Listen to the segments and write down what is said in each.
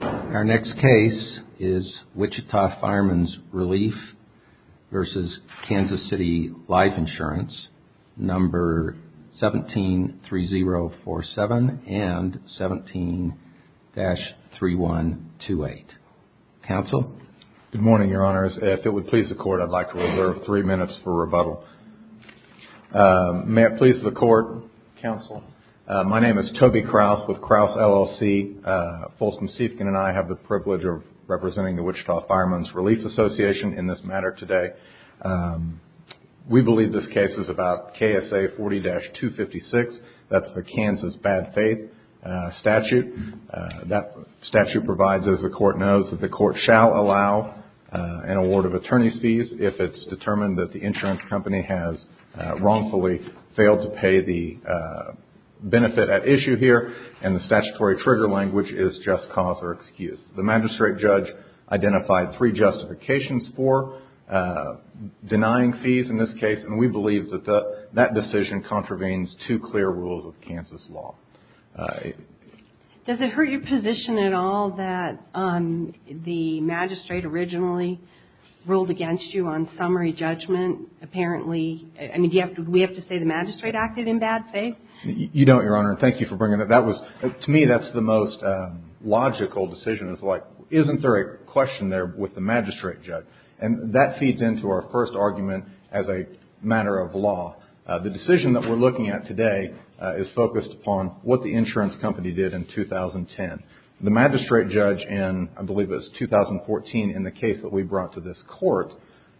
Our next case is Wichita Firemen's Relief vs. Kansas City Life Insurance, number 173047 and 17-3128. Counsel? Good morning, Your Honors. If it would please the Court, I'd like to reserve three minutes for rebuttal. May it please the Court, Counsel? My name is Toby Krause with Krause LLC. Folsom Seifkin and I have the privilege of representing the Wichita Firemen's Relief Association in this matter today. We believe this case is about KSA 40-256. That's the Kansas bad faith statute. That statute provides, as the Court knows, that the Court shall allow an award of attorney's fees if it's determined that the insurance company has wrongfully failed to pay the benefit at issue here and the statutory trigger language is just cause or excuse. The magistrate judge identified three justifications for denying fees in this case and we believe that that decision contravenes two clear rules of Kansas law. Does it hurt your position at all that the magistrate originally ruled against you on summary judgment, apparently? I mean, do we have to say the magistrate acted in bad faith? You don't, Your Honor, and thank you for bringing that up. To me, that's the most logical decision. It's like, isn't there a question there with the magistrate judge? And that feeds into our first argument as a matter of law. The decision that we're looking at today is focused upon what the insurance company did in 2010. The magistrate judge in, I believe it was 2014, in the case that we brought to this Court,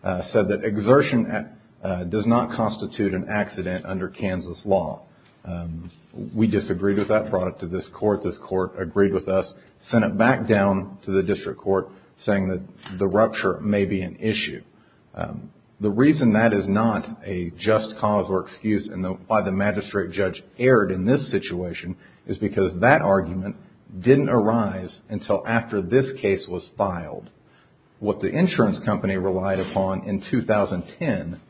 said that exertion does not constitute an accident under Kansas law. We disagreed with that, brought it to this Court. This Court agreed with us, sent it back down to the District Court, saying that the rupture may be an issue. The reason that is not a just cause or excuse and why the magistrate judge erred in this situation is because that argument didn't arise until after this case was filed. What the insurance company relied upon in 2010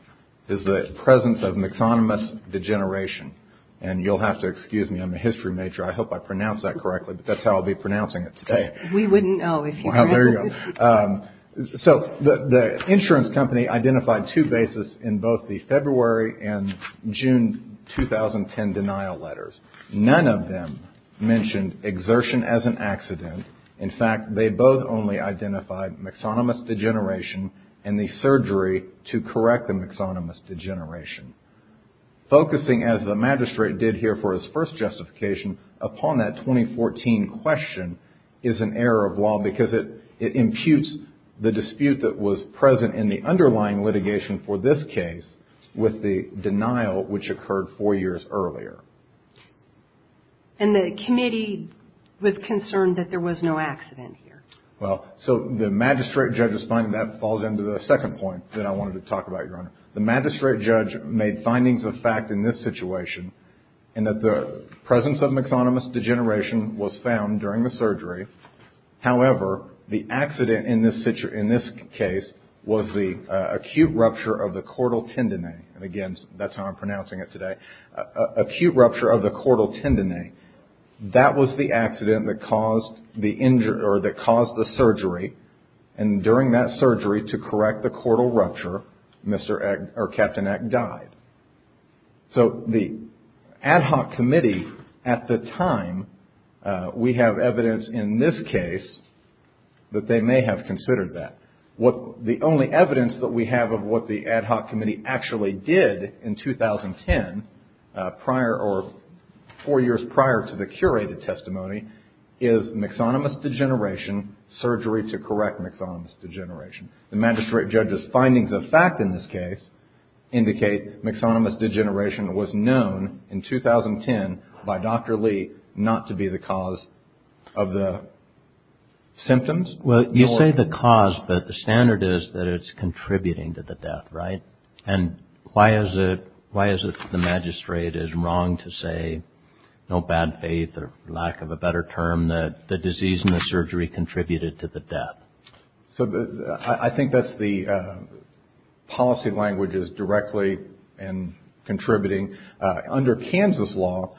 is the presence of an economist's degeneration. And you'll have to excuse me. I'm a history major. I hope I pronounced that correctly, but that's how I'll be pronouncing it today. We wouldn't know. Wow, there you go. So the insurance company identified two bases in both the February and June 2010 denial letters. None of them mentioned exertion as an accident. In fact, they both only identified myxonomous degeneration and the surgery to correct the myxonomous degeneration. Focusing, as the magistrate did here for his first justification, upon that 2014 question is an error of law because it imputes the dispute that was present in the underlying litigation for this case with the denial which occurred four years earlier. And the committee was concerned that there was no accident here. Well, so the magistrate judge's finding, that falls into the second point that I wanted to talk about, Your Honor. The magistrate judge made findings of fact in this situation and that the presence of myxonomous degeneration was found during the surgery. However, the accident in this case was the acute rupture of the caudal tendon. And again, that's how I'm pronouncing it today. Acute rupture of the caudal tendon. That was the accident that caused the surgery. And during that surgery, to correct the caudal rupture, Captain Eck died. So the ad hoc committee at the time, we have evidence in this case that they may have considered that. The only evidence that we have of what the ad hoc committee actually did in 2010, or four years prior to the curated testimony, is myxonomous degeneration, surgery to correct myxonomous degeneration. The magistrate judge's findings of fact in this case indicate myxonomous degeneration was known in 2010 by Dr. Lee not to be the cause of the symptoms. Well, you say the cause, but the standard is that it's contributing to the death, right? And why is it the magistrate is wrong to say, no bad faith or lack of a better term, that the disease and the surgery contributed to the death? So I think that's the policy language is directly and contributing. Under Kansas law,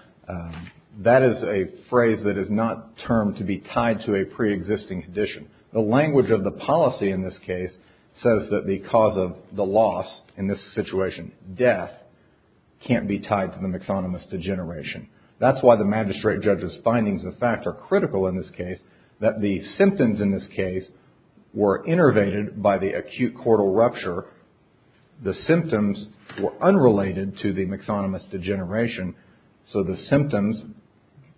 that is a phrase that is not termed to be tied to a preexisting condition. The language of the policy in this case says that the cause of the loss in this situation, death, can't be tied to the myxonomous degeneration. That's why the magistrate judge's findings of fact are critical in this case, that the symptoms in this case were innervated by the acute caudal rupture. The symptoms were unrelated to the myxonomous degeneration. So the symptoms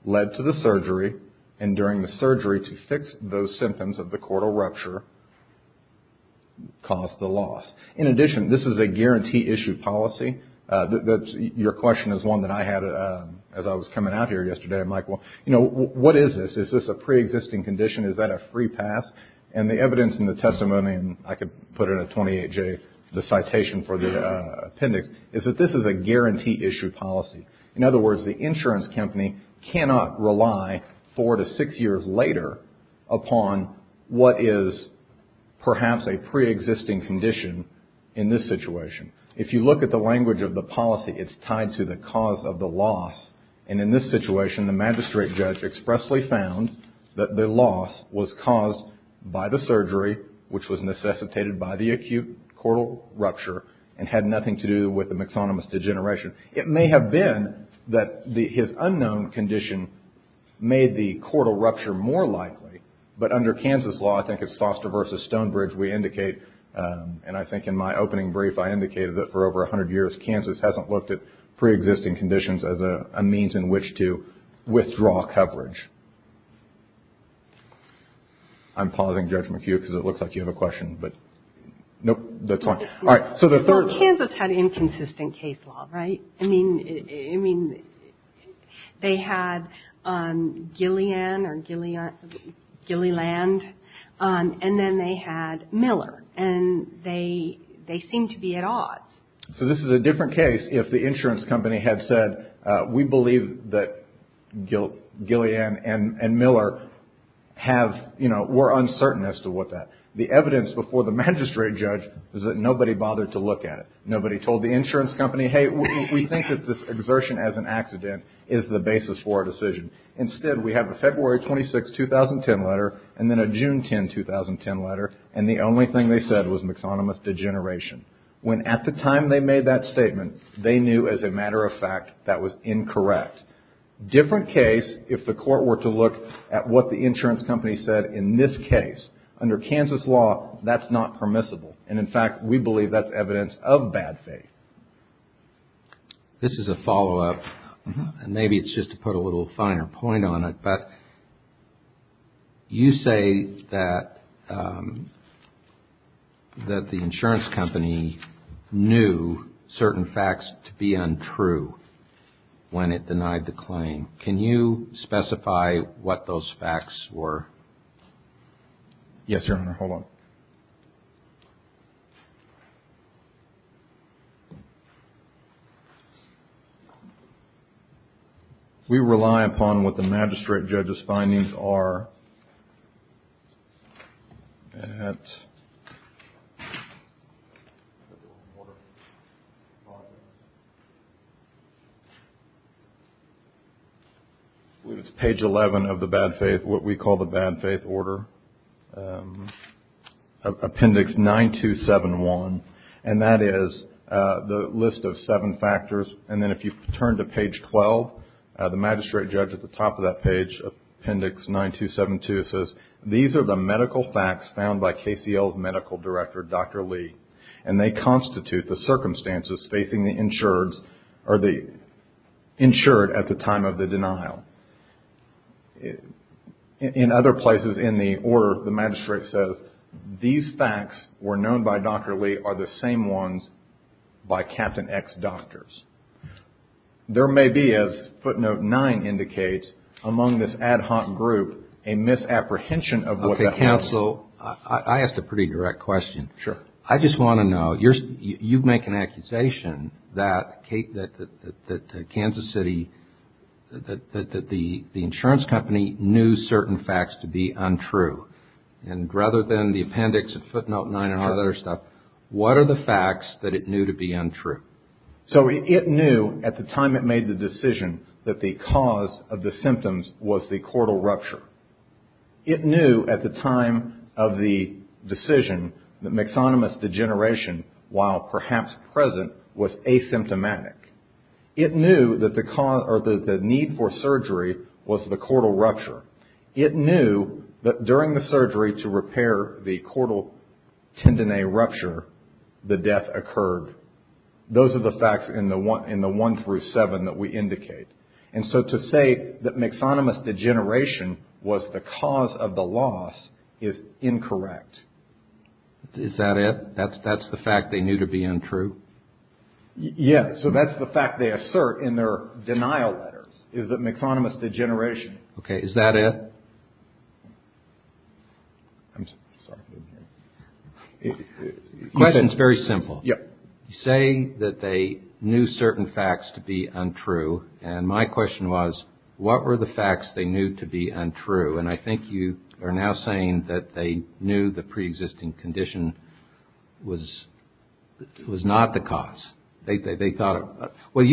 led to the surgery, and during the surgery to fix those symptoms of the caudal rupture caused the loss. In addition, this is a guarantee issue policy. Your question is one that I had as I was coming out here yesterday. I'm like, well, you know, what is this? Is this a preexisting condition? Is that a free pass? And the evidence in the testimony, and I could put in a 28-J, the citation for the appendix, is that this is a guarantee issue policy. In other words, the insurance company cannot rely four to six years later upon what is perhaps a preexisting condition in this situation. If you look at the language of the policy, it's tied to the cause of the loss. And in this situation, the magistrate judge expressly found that the loss was caused by the surgery, which was necessitated by the acute caudal rupture, and had nothing to do with the myxonomous degeneration. It may have been that his unknown condition made the caudal rupture more likely, but under Kansas law, I think it's Foster v. Stonebridge, we indicate, and I think in my opening brief I indicated that for over 100 years, Kansas hasn't looked at preexisting conditions as a means in which to withdraw coverage. I'm pausing, Judge McHugh, because it looks like you have a question, but nope, that's fine. All right, so the third. Well, Kansas had inconsistent case law, right? I mean, they had Gillian or Gilliland, and then they had Miller, and they seemed to be at odds. So this is a different case if the insurance company had said, we believe that Gillian and Miller have, you know, were uncertain as to what that, the evidence before the magistrate judge was that nobody bothered to look at it. Nobody told the insurance company, hey, we think that this exertion as an accident is the basis for our decision. Instead, we have a February 26, 2010 letter, and then a June 10, 2010 letter, and the only thing they said was myxonomous degeneration. When at the time they made that statement, they knew as a matter of fact that was incorrect. Different case, if the court were to look at what the insurance company said in this case, under Kansas law, that's not permissible. And, in fact, we believe that's evidence of bad faith. This is a follow-up, and maybe it's just to put a little finer point on it, but you say that the insurance company knew certain facts to be untrue when it denied the claim. Can you specify what those facts were? Yes, Your Honor, hold on. We rely upon what the magistrate judge's findings are at... I believe it's page 11 of the bad faith, what we call the bad faith order, appendix 9271, and that is the list of seven factors, and then if you turn to page 12, the magistrate judge at the top of that page, appendix 9272, says, these are the medical facts found by KCL's medical director, Dr. Lee, and they constitute the circumstances facing the insured at the time of the denial. In other places in the order, the magistrate says, these facts were known by Dr. Lee are the same ones by Captain X doctors. There may be, as footnote 9 indicates, among this ad hoc group, a misapprehension of what the... Okay, counsel, I asked a pretty direct question. Sure. I just want to know, you make an accusation that Kansas City, that the insurance company knew certain facts to be untrue, and rather than the appendix of footnote 9 and all that other stuff, what are the facts that it knew to be untrue? So it knew at the time it made the decision that the cause of the symptoms was the cortal rupture. It knew at the time of the decision that myxonomous degeneration, while perhaps present, was asymptomatic. It knew that the need for surgery was the cortal rupture. It knew that during the surgery to repair the cortal tendineal rupture, the death occurred. Those are the facts in the 1 through 7 that we indicate. And so to say that myxonomous degeneration was the cause of the loss is incorrect. Is that it? That's the fact they knew to be untrue? Yeah. So that's the fact they assert in their denial letters, is that myxonomous degeneration. Okay. Is that it? I'm sorry. The question's very simple. Yeah. You say that they knew certain facts to be untrue, and my question was, what were the facts they knew to be untrue? And I think you are now saying that they knew the preexisting condition was not the cause. They thought it was. Well,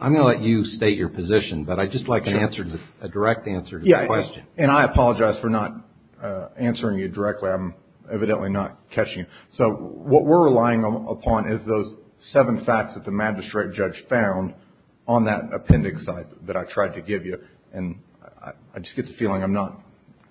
I'm going to let you state your position, but I'd just like a direct answer to the question. Yeah, and I apologize for not answering you directly. I'm evidently not catching it. So what we're relying upon is those seven facts that the magistrate judge found on that appendix that I tried to give you. And I just get the feeling I'm not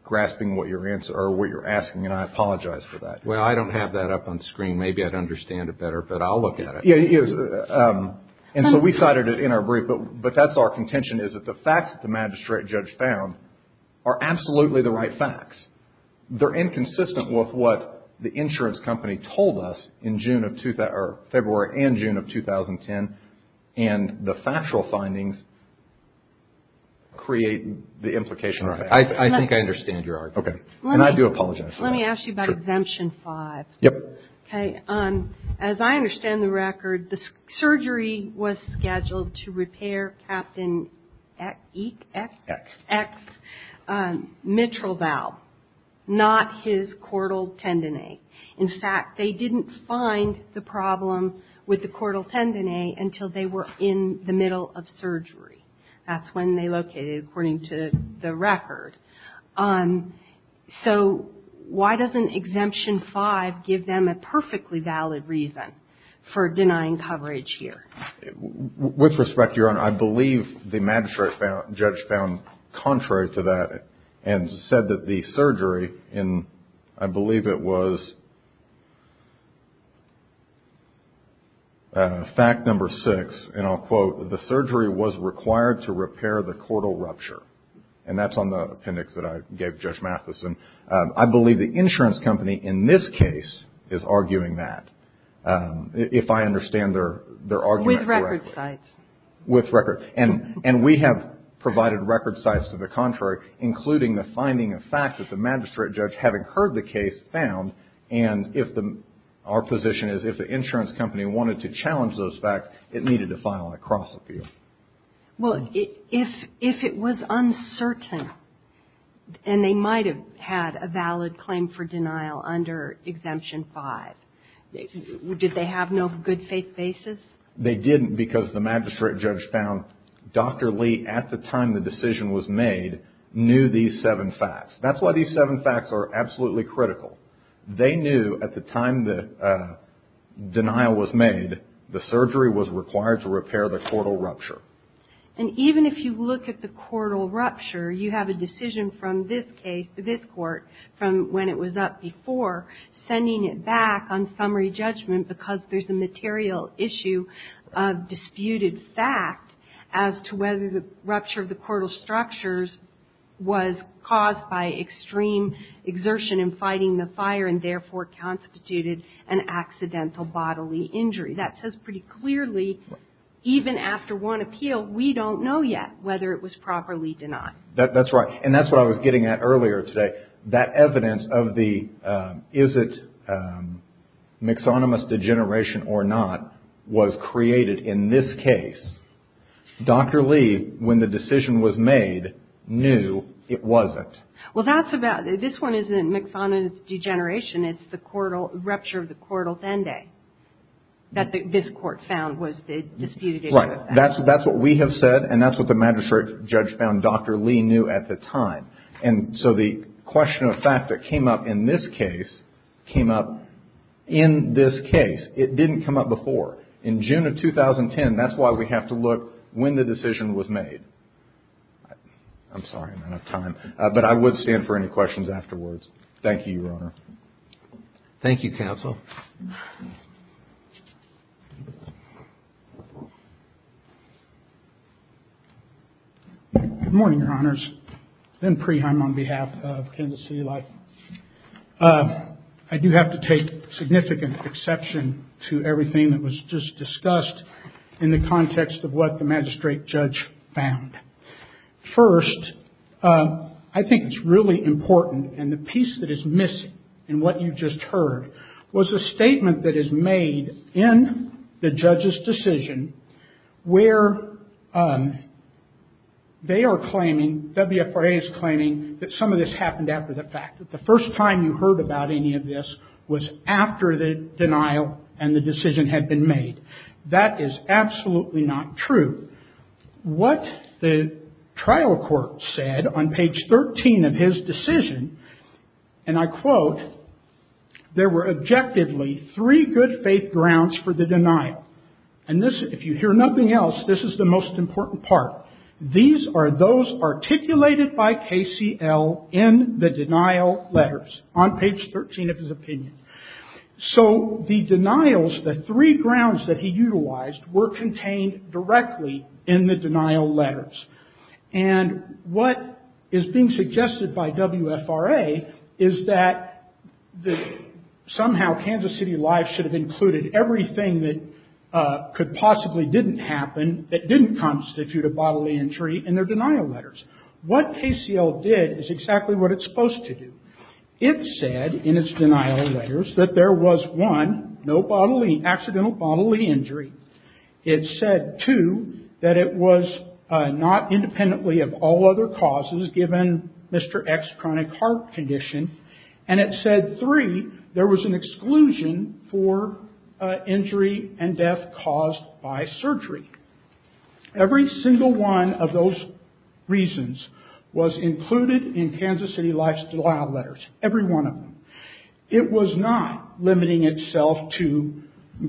grasping what you're asking, and I apologize for that. Well, I don't have that up on the screen. Maybe I'd understand it better, but I'll look at it. And so we cited it in our brief, but that's our contention, is that the facts that the magistrate judge found are absolutely the right facts. They're inconsistent with what the insurance company told us in February and June of 2010, and the factual findings create the implication. I think I understand your argument, and I do apologize for that. Let me ask you about Exemption 5. Yep. Okay. As I understand the record, the surgery was scheduled to repair Captain X. X. X. Mitral valve, not his chordal tendine. In fact, they didn't find the problem with the chordal tendine until they were in the middle of surgery. That's when they located it, according to the record. So why doesn't Exemption 5 give them a perfectly valid reason for denying coverage here? With respect, Your Honor, I believe the magistrate judge found contrary to that and said that the surgery, and I believe it was fact number six, and I'll quote, the surgery was required to repair the chordal rupture. And that's on the appendix that I gave Judge Mathison. I believe the insurance company in this case is arguing that, if I understand their argument correctly. With record sites. With record. And we have provided record sites to the contrary, including the finding of facts that the magistrate judge, having heard the case, found. And our position is, if the insurance company wanted to challenge those facts, it needed to file a cross-appeal. Well, if it was uncertain, and they might have had a valid claim for denial under Exemption 5, did they have no good faith basis? They didn't because the magistrate judge found Dr. Lee, at the time the decision was made, knew these seven facts. That's why these seven facts are absolutely critical. They knew, at the time the denial was made, the surgery was required to repair the chordal rupture. And even if you look at the chordal rupture, you have a decision from this case, this court, from when it was up before, sending it back on summary judgment because there's a material issue of disputed fact as to whether the rupture of the chordal structures was caused by extreme exertion in fighting the fire and therefore constituted an accidental bodily injury. That says pretty clearly, even after one appeal, we don't know yet whether it was properly denied. That's right. And that's what I was getting at earlier today. That evidence of the is it myxonomous degeneration or not was created in this case. Dr. Lee, when the decision was made, knew it wasn't. Well, that's about it. This one isn't myxonomous degeneration. It's the chordal rupture of the chordal tende that this court found was the disputed issue of facts. Right. That's what we have said, and that's what the magistrate judge found Dr. Lee knew at the time. And so the question of fact that came up in this case came up in this case. It didn't come up before. In June of 2010, that's why we have to look when the decision was made. I'm sorry, I don't have time, but I would stand for any questions afterwards. Thank you, Your Honor. Thank you, counsel. Good morning, Your Honors. Ben Preheim on behalf of Kansas City Life. I do have to take significant exception to everything that was just discussed in the context of what the magistrate judge found. First, I think it's really important. And the piece that is missing in what you just heard was a statement that is made in the judge's decision where they are claiming, WFRA is claiming, that some of this happened after the fact. That the first time you heard about any of this was after the denial and the decision had been made. That is absolutely not true. What the trial court said on page 13 of his decision, and I quote, there were objectively three good faith grounds for the denial. And this, if you hear nothing else, this is the most important part. These are those articulated by KCL in the denial letters on page 13 of his opinion. So the denials, the three grounds that he utilized, were contained directly in the denial letters. And what is being suggested by WFRA is that somehow Kansas City Life should have included everything that could possibly didn't happen, that didn't constitute a bodily injury, in their denial letters. What KCL did is exactly what it's supposed to do. It said in its denial letters that there was, one, no bodily, accidental bodily injury. It said, two, that it was not independently of all other causes given Mr. X's chronic heart condition. And it said, three, there was an exclusion for injury and death caused by surgery. Every single one of those reasons was included in Kansas City Life's denial letters, every one of them. It was not limiting itself to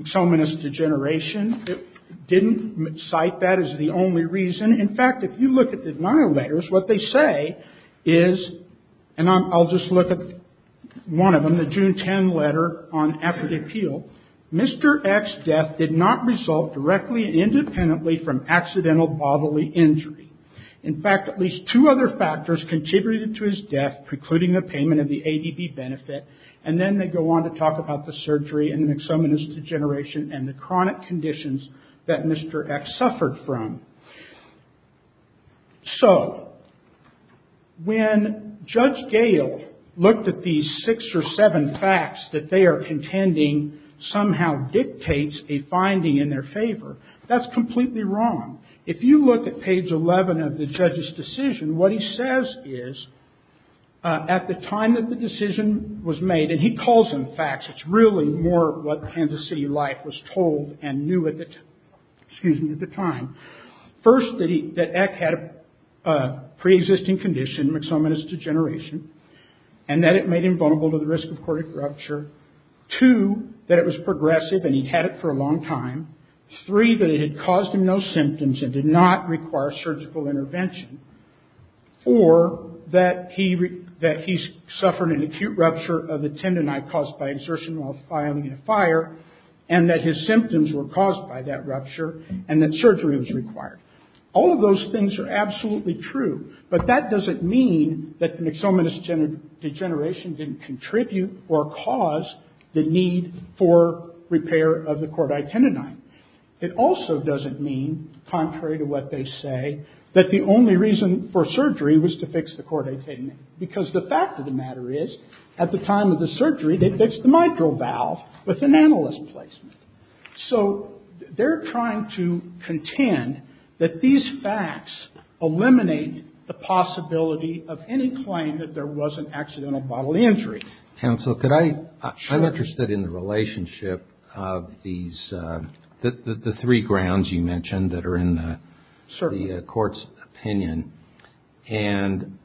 someone's degeneration. It didn't cite that as the only reason. In fact, if you look at the denial letters, what they say is, and I'll just look at one of them, the June 10 letter on after the appeal, Mr. X's death did not result directly and independently from accidental bodily injury. In fact, at least two other factors contributed to his death, precluding the payment of the ADB benefit. And then they go on to talk about the surgery and an exomenous degeneration and the chronic conditions that Mr. X suffered from. So, when Judge Gale looked at these six or seven facts that they are contending somehow dictates a finding in their favor, that's completely wrong. If you look at page 11 of the judge's decision, what he says is, at the time that the decision was made, and he calls them facts, it's really more what Kansas City Life was told and knew at the time. First, that X had a pre-existing condition, an exomenous degeneration, and that it made him vulnerable to the risk of cardiac rupture. Two, that it was progressive and he'd had it for a long time. Three, that it had caused him no symptoms and did not require surgical intervention. Four, that he suffered an acute rupture of the tendinitis caused by exertion while filing a fire, and that his symptoms were caused by that rupture, and that surgery was required. All of those things are absolutely true, but that doesn't mean that the exomenous degeneration didn't contribute or cause the need for repair of the choroid tendinitis. It also doesn't mean, contrary to what they say, that the only reason for surgery was to fix the choroid tendinitis. Because the fact of the matter is, at the time of the surgery, they fixed the mitral valve with an annulus placement. So they're trying to contend that these facts eliminate the possibility of any claim that there was an accidental bodily injury. Counsel, I'm interested in the relationship of the three grounds you mentioned that are in the court's opinion. And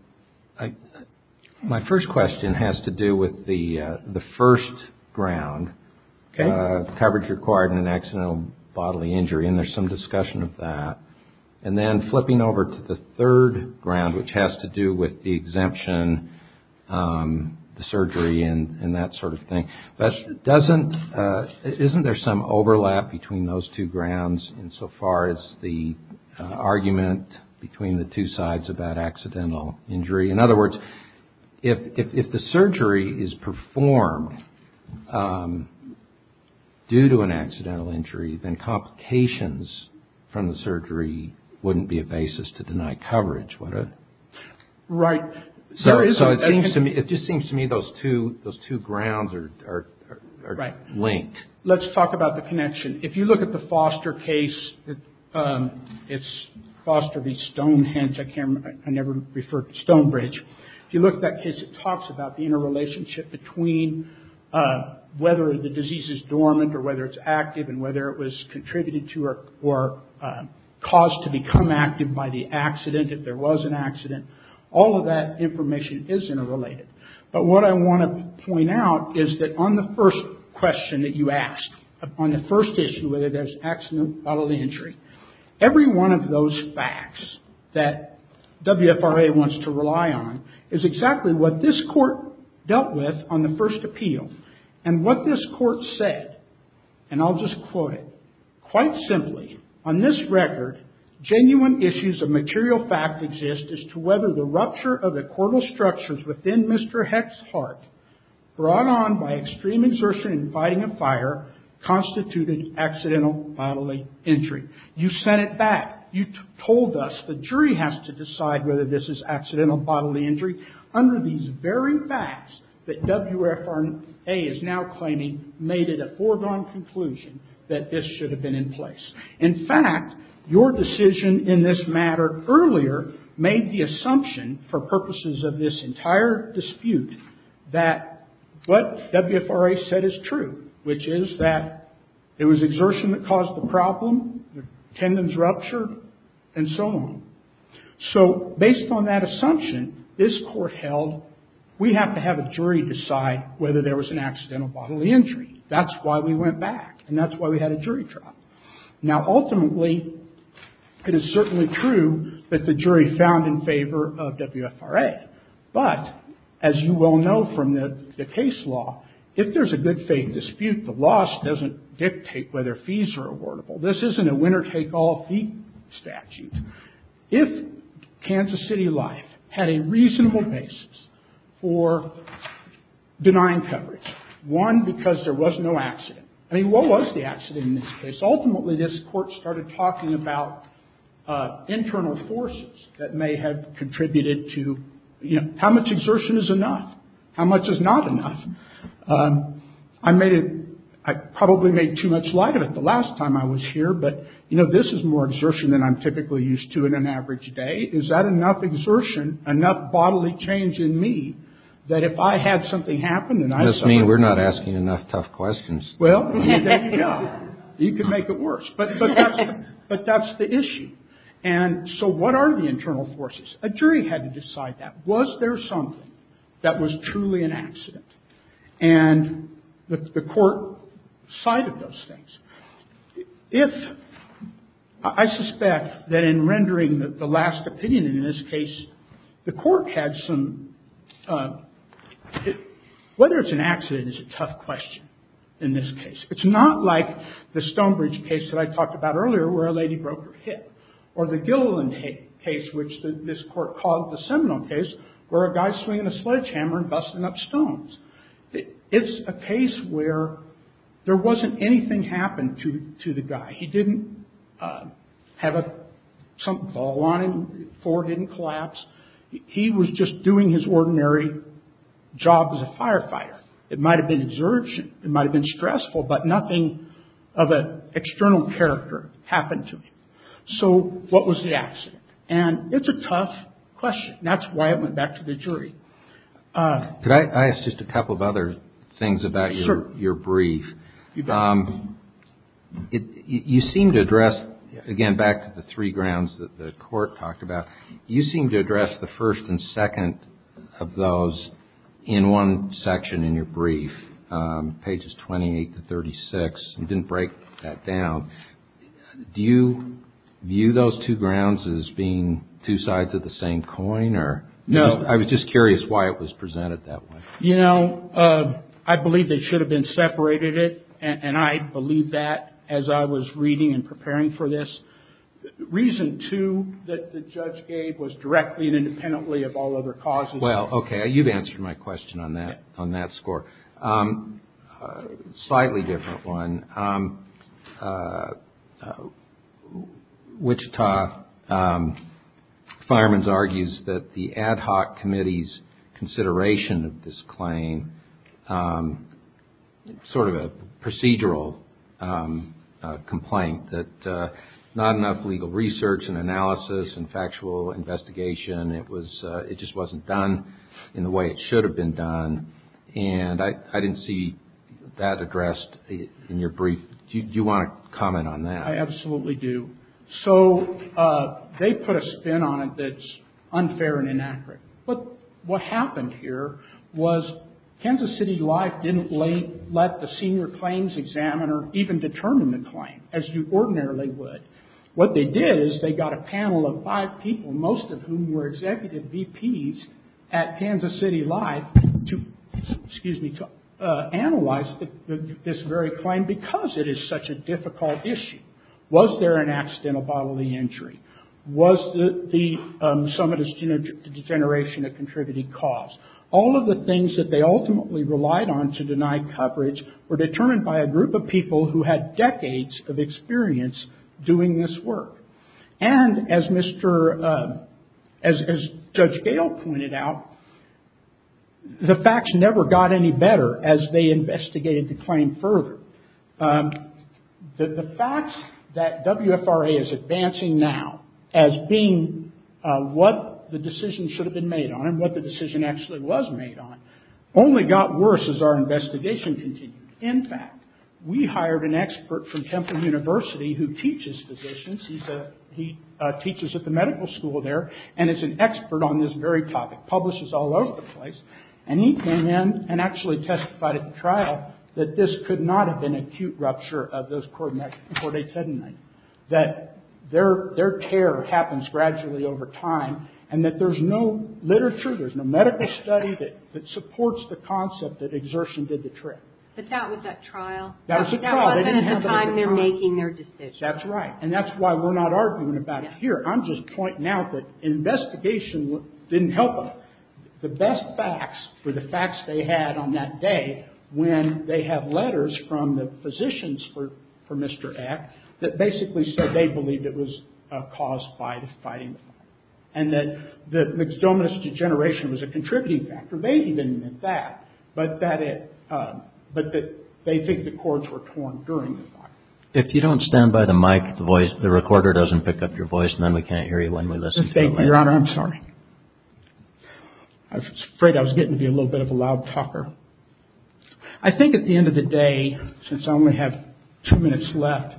my first question has to do with the first ground, coverage required in an accidental bodily injury, and there's some discussion of that. And then flipping over to the third ground, which has to do with the exemption, the surgery, and that sort of thing. Isn't there some overlap between those two grounds insofar as the argument between the two sides about accidental injury? In other words, if the surgery is performed due to an accidental injury, then complications from the surgery wouldn't be a basis to deny coverage, would it? Right. So it just seems to me those two grounds are linked. Right. Let's talk about the connection. If you look at the Foster case, it's Foster v. Stonehenge. I never referred to Stonebridge. If you look at that case, it talks about the interrelationship between whether the disease is dormant or whether it's active and whether it was contributed to or caused to become active by the accident, if there was an accident. All of that information is interrelated. But what I want to point out is that on the first question that you asked, on the first issue, whether there's accidental bodily injury, every one of those facts that WFRA wants to rely on is exactly what this court dealt with on the first appeal and what this court said. And I'll just quote it. Quite simply, on this record, genuine issues of material fact exist as to whether the rupture of the cortical structures within Mr. Heck's heart, brought on by extreme exertion and fighting a fire, constituted accidental bodily injury. You sent it back. You told us the jury has to decide whether this is accidental bodily injury. Under these very facts that WFRA is now claiming, made it a foregone conclusion that this should have been in place. In fact, your decision in this matter earlier made the assumption, for purposes of this entire dispute, that what WFRA said is true, which is that it was exertion that caused the problem, the tendons ruptured, and so on. So, based on that assumption, this court held, we have to have a jury decide whether there was an accidental bodily injury. That's why we went back, and that's why we had a jury trial. Now, ultimately, it is certainly true that the jury found in favor of WFRA. But, as you well know from the case law, if there's a good faith dispute, the loss doesn't dictate whether fees are awardable. This isn't a winner-take-all fee statute. If Kansas City Life had a reasonable basis for denying coverage, one, because there was no accident. I mean, what was the accident in this case? Ultimately, this court started talking about internal forces that may have contributed to, you know, how much exertion is enough, how much is not enough. I made it, I probably made too much light of it the last time I was here, but, you know, this is more exertion than I'm typically used to in an average day. Is that enough exertion, enough bodily change in me, that if I had something happen and I suffered? This means we're not asking enough tough questions. Well, you can make it worse. But that's the issue. And so what are the internal forces? A jury had to decide that. Was there something that was truly an accident? And the court cited those things. If, I suspect that in rendering the last opinion in this case, the court had some, whether it's an accident is a tough question in this case. It's not like the Stonebridge case that I talked about earlier, where a lady broke her hip. Or the Gilliland case, which this court called the Seminole case, where a guy's swinging a sledgehammer and busting up stones. It's a case where there wasn't anything happen to the guy. He didn't have a ball on him, the floor didn't collapse. He was just doing his ordinary job as a firefighter. It might have been exertion. It might have been stressful. But nothing of an external character happened to him. So what was the accident? And it's a tough question. That's why it went back to the jury. Could I ask just a couple of other things about your brief? You seem to address, again, back to the three grounds that the court talked about. You seem to address the first and second of those in one section in your brief, pages 28 to 36. You didn't break that down. Do you view those two grounds as being two sides of the same coin? No. I was just curious why it was presented that way. You know, I believe they should have been separated. And I believe that as I was reading and preparing for this. Reason two that the judge gave was directly and independently of all other causes. Well, okay. You've answered my question on that score. Slightly different one. Wichita Firemen's argues that the ad hoc committee's consideration of this claim, sort of a procedural complaint, that not enough legal research and analysis and factual investigation. It just wasn't done in the way it should have been done. And I didn't see that addressed in your brief. Do you want to comment on that? I absolutely do. So they put a spin on it that's unfair and inaccurate. But what happened here was Kansas City Life didn't let the senior claims examiner even determine the claim, as you ordinarily would. What they did is they got a panel of five people, most of whom were executive VPs at Kansas City Life, to analyze this very claim because it is such a difficult issue. Was there an accidental bodily injury? Was some of this degeneration a contributing cause? All of the things that they ultimately relied on to deny coverage were determined by a group of people who had decades of experience doing this work. And, as Judge Gale pointed out, the facts never got any better as they investigated the claim further. The facts that WFRA is advancing now as being what the decision should have been made on and what the decision actually was made on only got worse as our investigation continued. In fact, we hired an expert from Temple University who teaches physicians. He teaches at the medical school there and is an expert on this very topic, publishes all over the place. And he came in and actually testified at the trial that this could not have been an acute rupture of those chordae tendineae, that their tear happens gradually over time, and that there's no literature, there's no medical study that supports the concept that exertion did the trick. But that was at trial. That was at trial. That wasn't at the time they were making their decision. That's right. And that's why we're not arguing about it here. I'm just pointing out that investigation didn't help them. The best facts were the facts they had on that day when they have letters from the physicians for Mr. Eck that basically said they believed it was caused by the fighting. And that the myxomatous degeneration was a contributing factor. They didn't even admit that, but that they think the chords were torn during the fight. If you don't stand by the mic, the recorder doesn't pick up your voice, and then we can't hear you when we listen to it. Your Honor, I'm sorry. I was afraid I was getting to be a little bit of a loud talker. I think at the end of the day, since I only have two minutes left,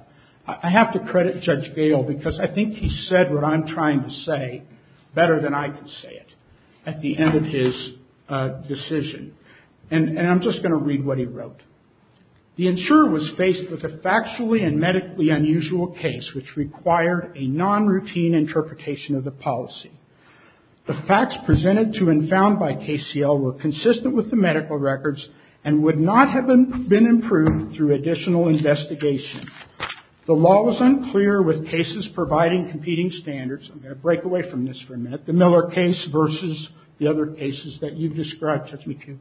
I have to credit Judge Gale, because I think he said what I'm trying to say better than I can say it at the end of his decision. And I'm just going to read what he wrote. The insurer was faced with a factually and medically unusual case which required a non-routine interpretation of the policy. The facts presented to and found by KCL were consistent with the medical records and would not have been improved through additional investigation. The law was unclear with cases providing competing standards. I'm going to break away from this for a minute. The Miller case versus the other cases that you've described, Judge McHugh.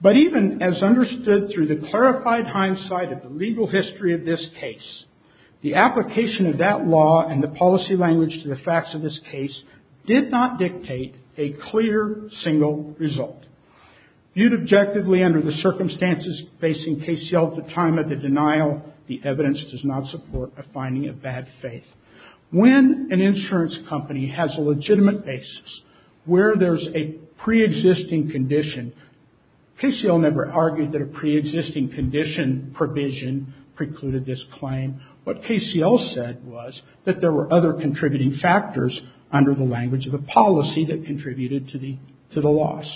But even as understood through the clarified hindsight of the legal history of this case, the application of that law and the policy language to the facts of this case did not dictate a clear single result. Viewed objectively under the circumstances facing KCL at the time of the denial, the evidence does not support a finding of bad faith. When an insurance company has a legitimate basis where there's a pre-existing condition, KCL never argued that a pre-existing condition provision precluded this claim. What KCL said was that there were other contributing factors under the language of the policy that contributed to the loss.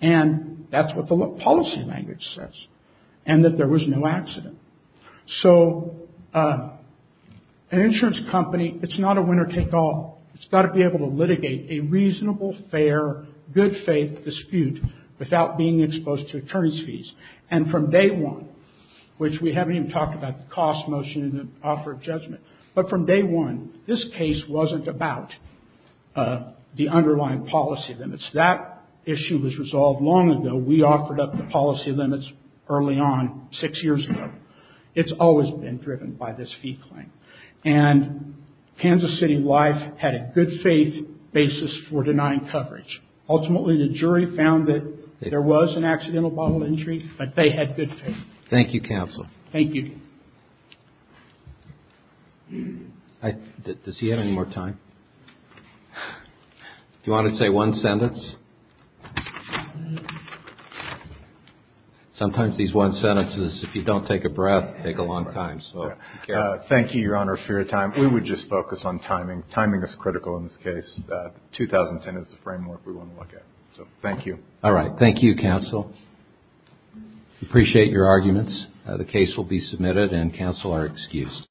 And that's what the policy language says. And that there was no accident. So an insurance company, it's not a winner-take-all. It's got to be able to litigate a reasonable, fair, good-faith dispute without being exposed to attorney's fees. And from day one, which we haven't even talked about the cost motion and the offer of judgment, but from day one, this case wasn't about the underlying policy limits. That issue was resolved long ago. We offered up the policy limits early on, six years ago. It's always been driven by this fee claim. And Kansas City Life had a good-faith basis for denying coverage. Ultimately, the jury found that there was an accidental bodily injury, but they had good faith. Thank you, Counsel. Thank you. Does he have any more time? Do you want to say one sentence? Sometimes these one sentences, if you don't take a breath, take a long time. Thank you, Your Honor, for your time. We would just focus on timing. Timing is critical in this case. 2010 is the framework we want to look at. So thank you. All right. Thank you, Counsel. We appreciate your arguments. The case will be submitted and Counsel are excused.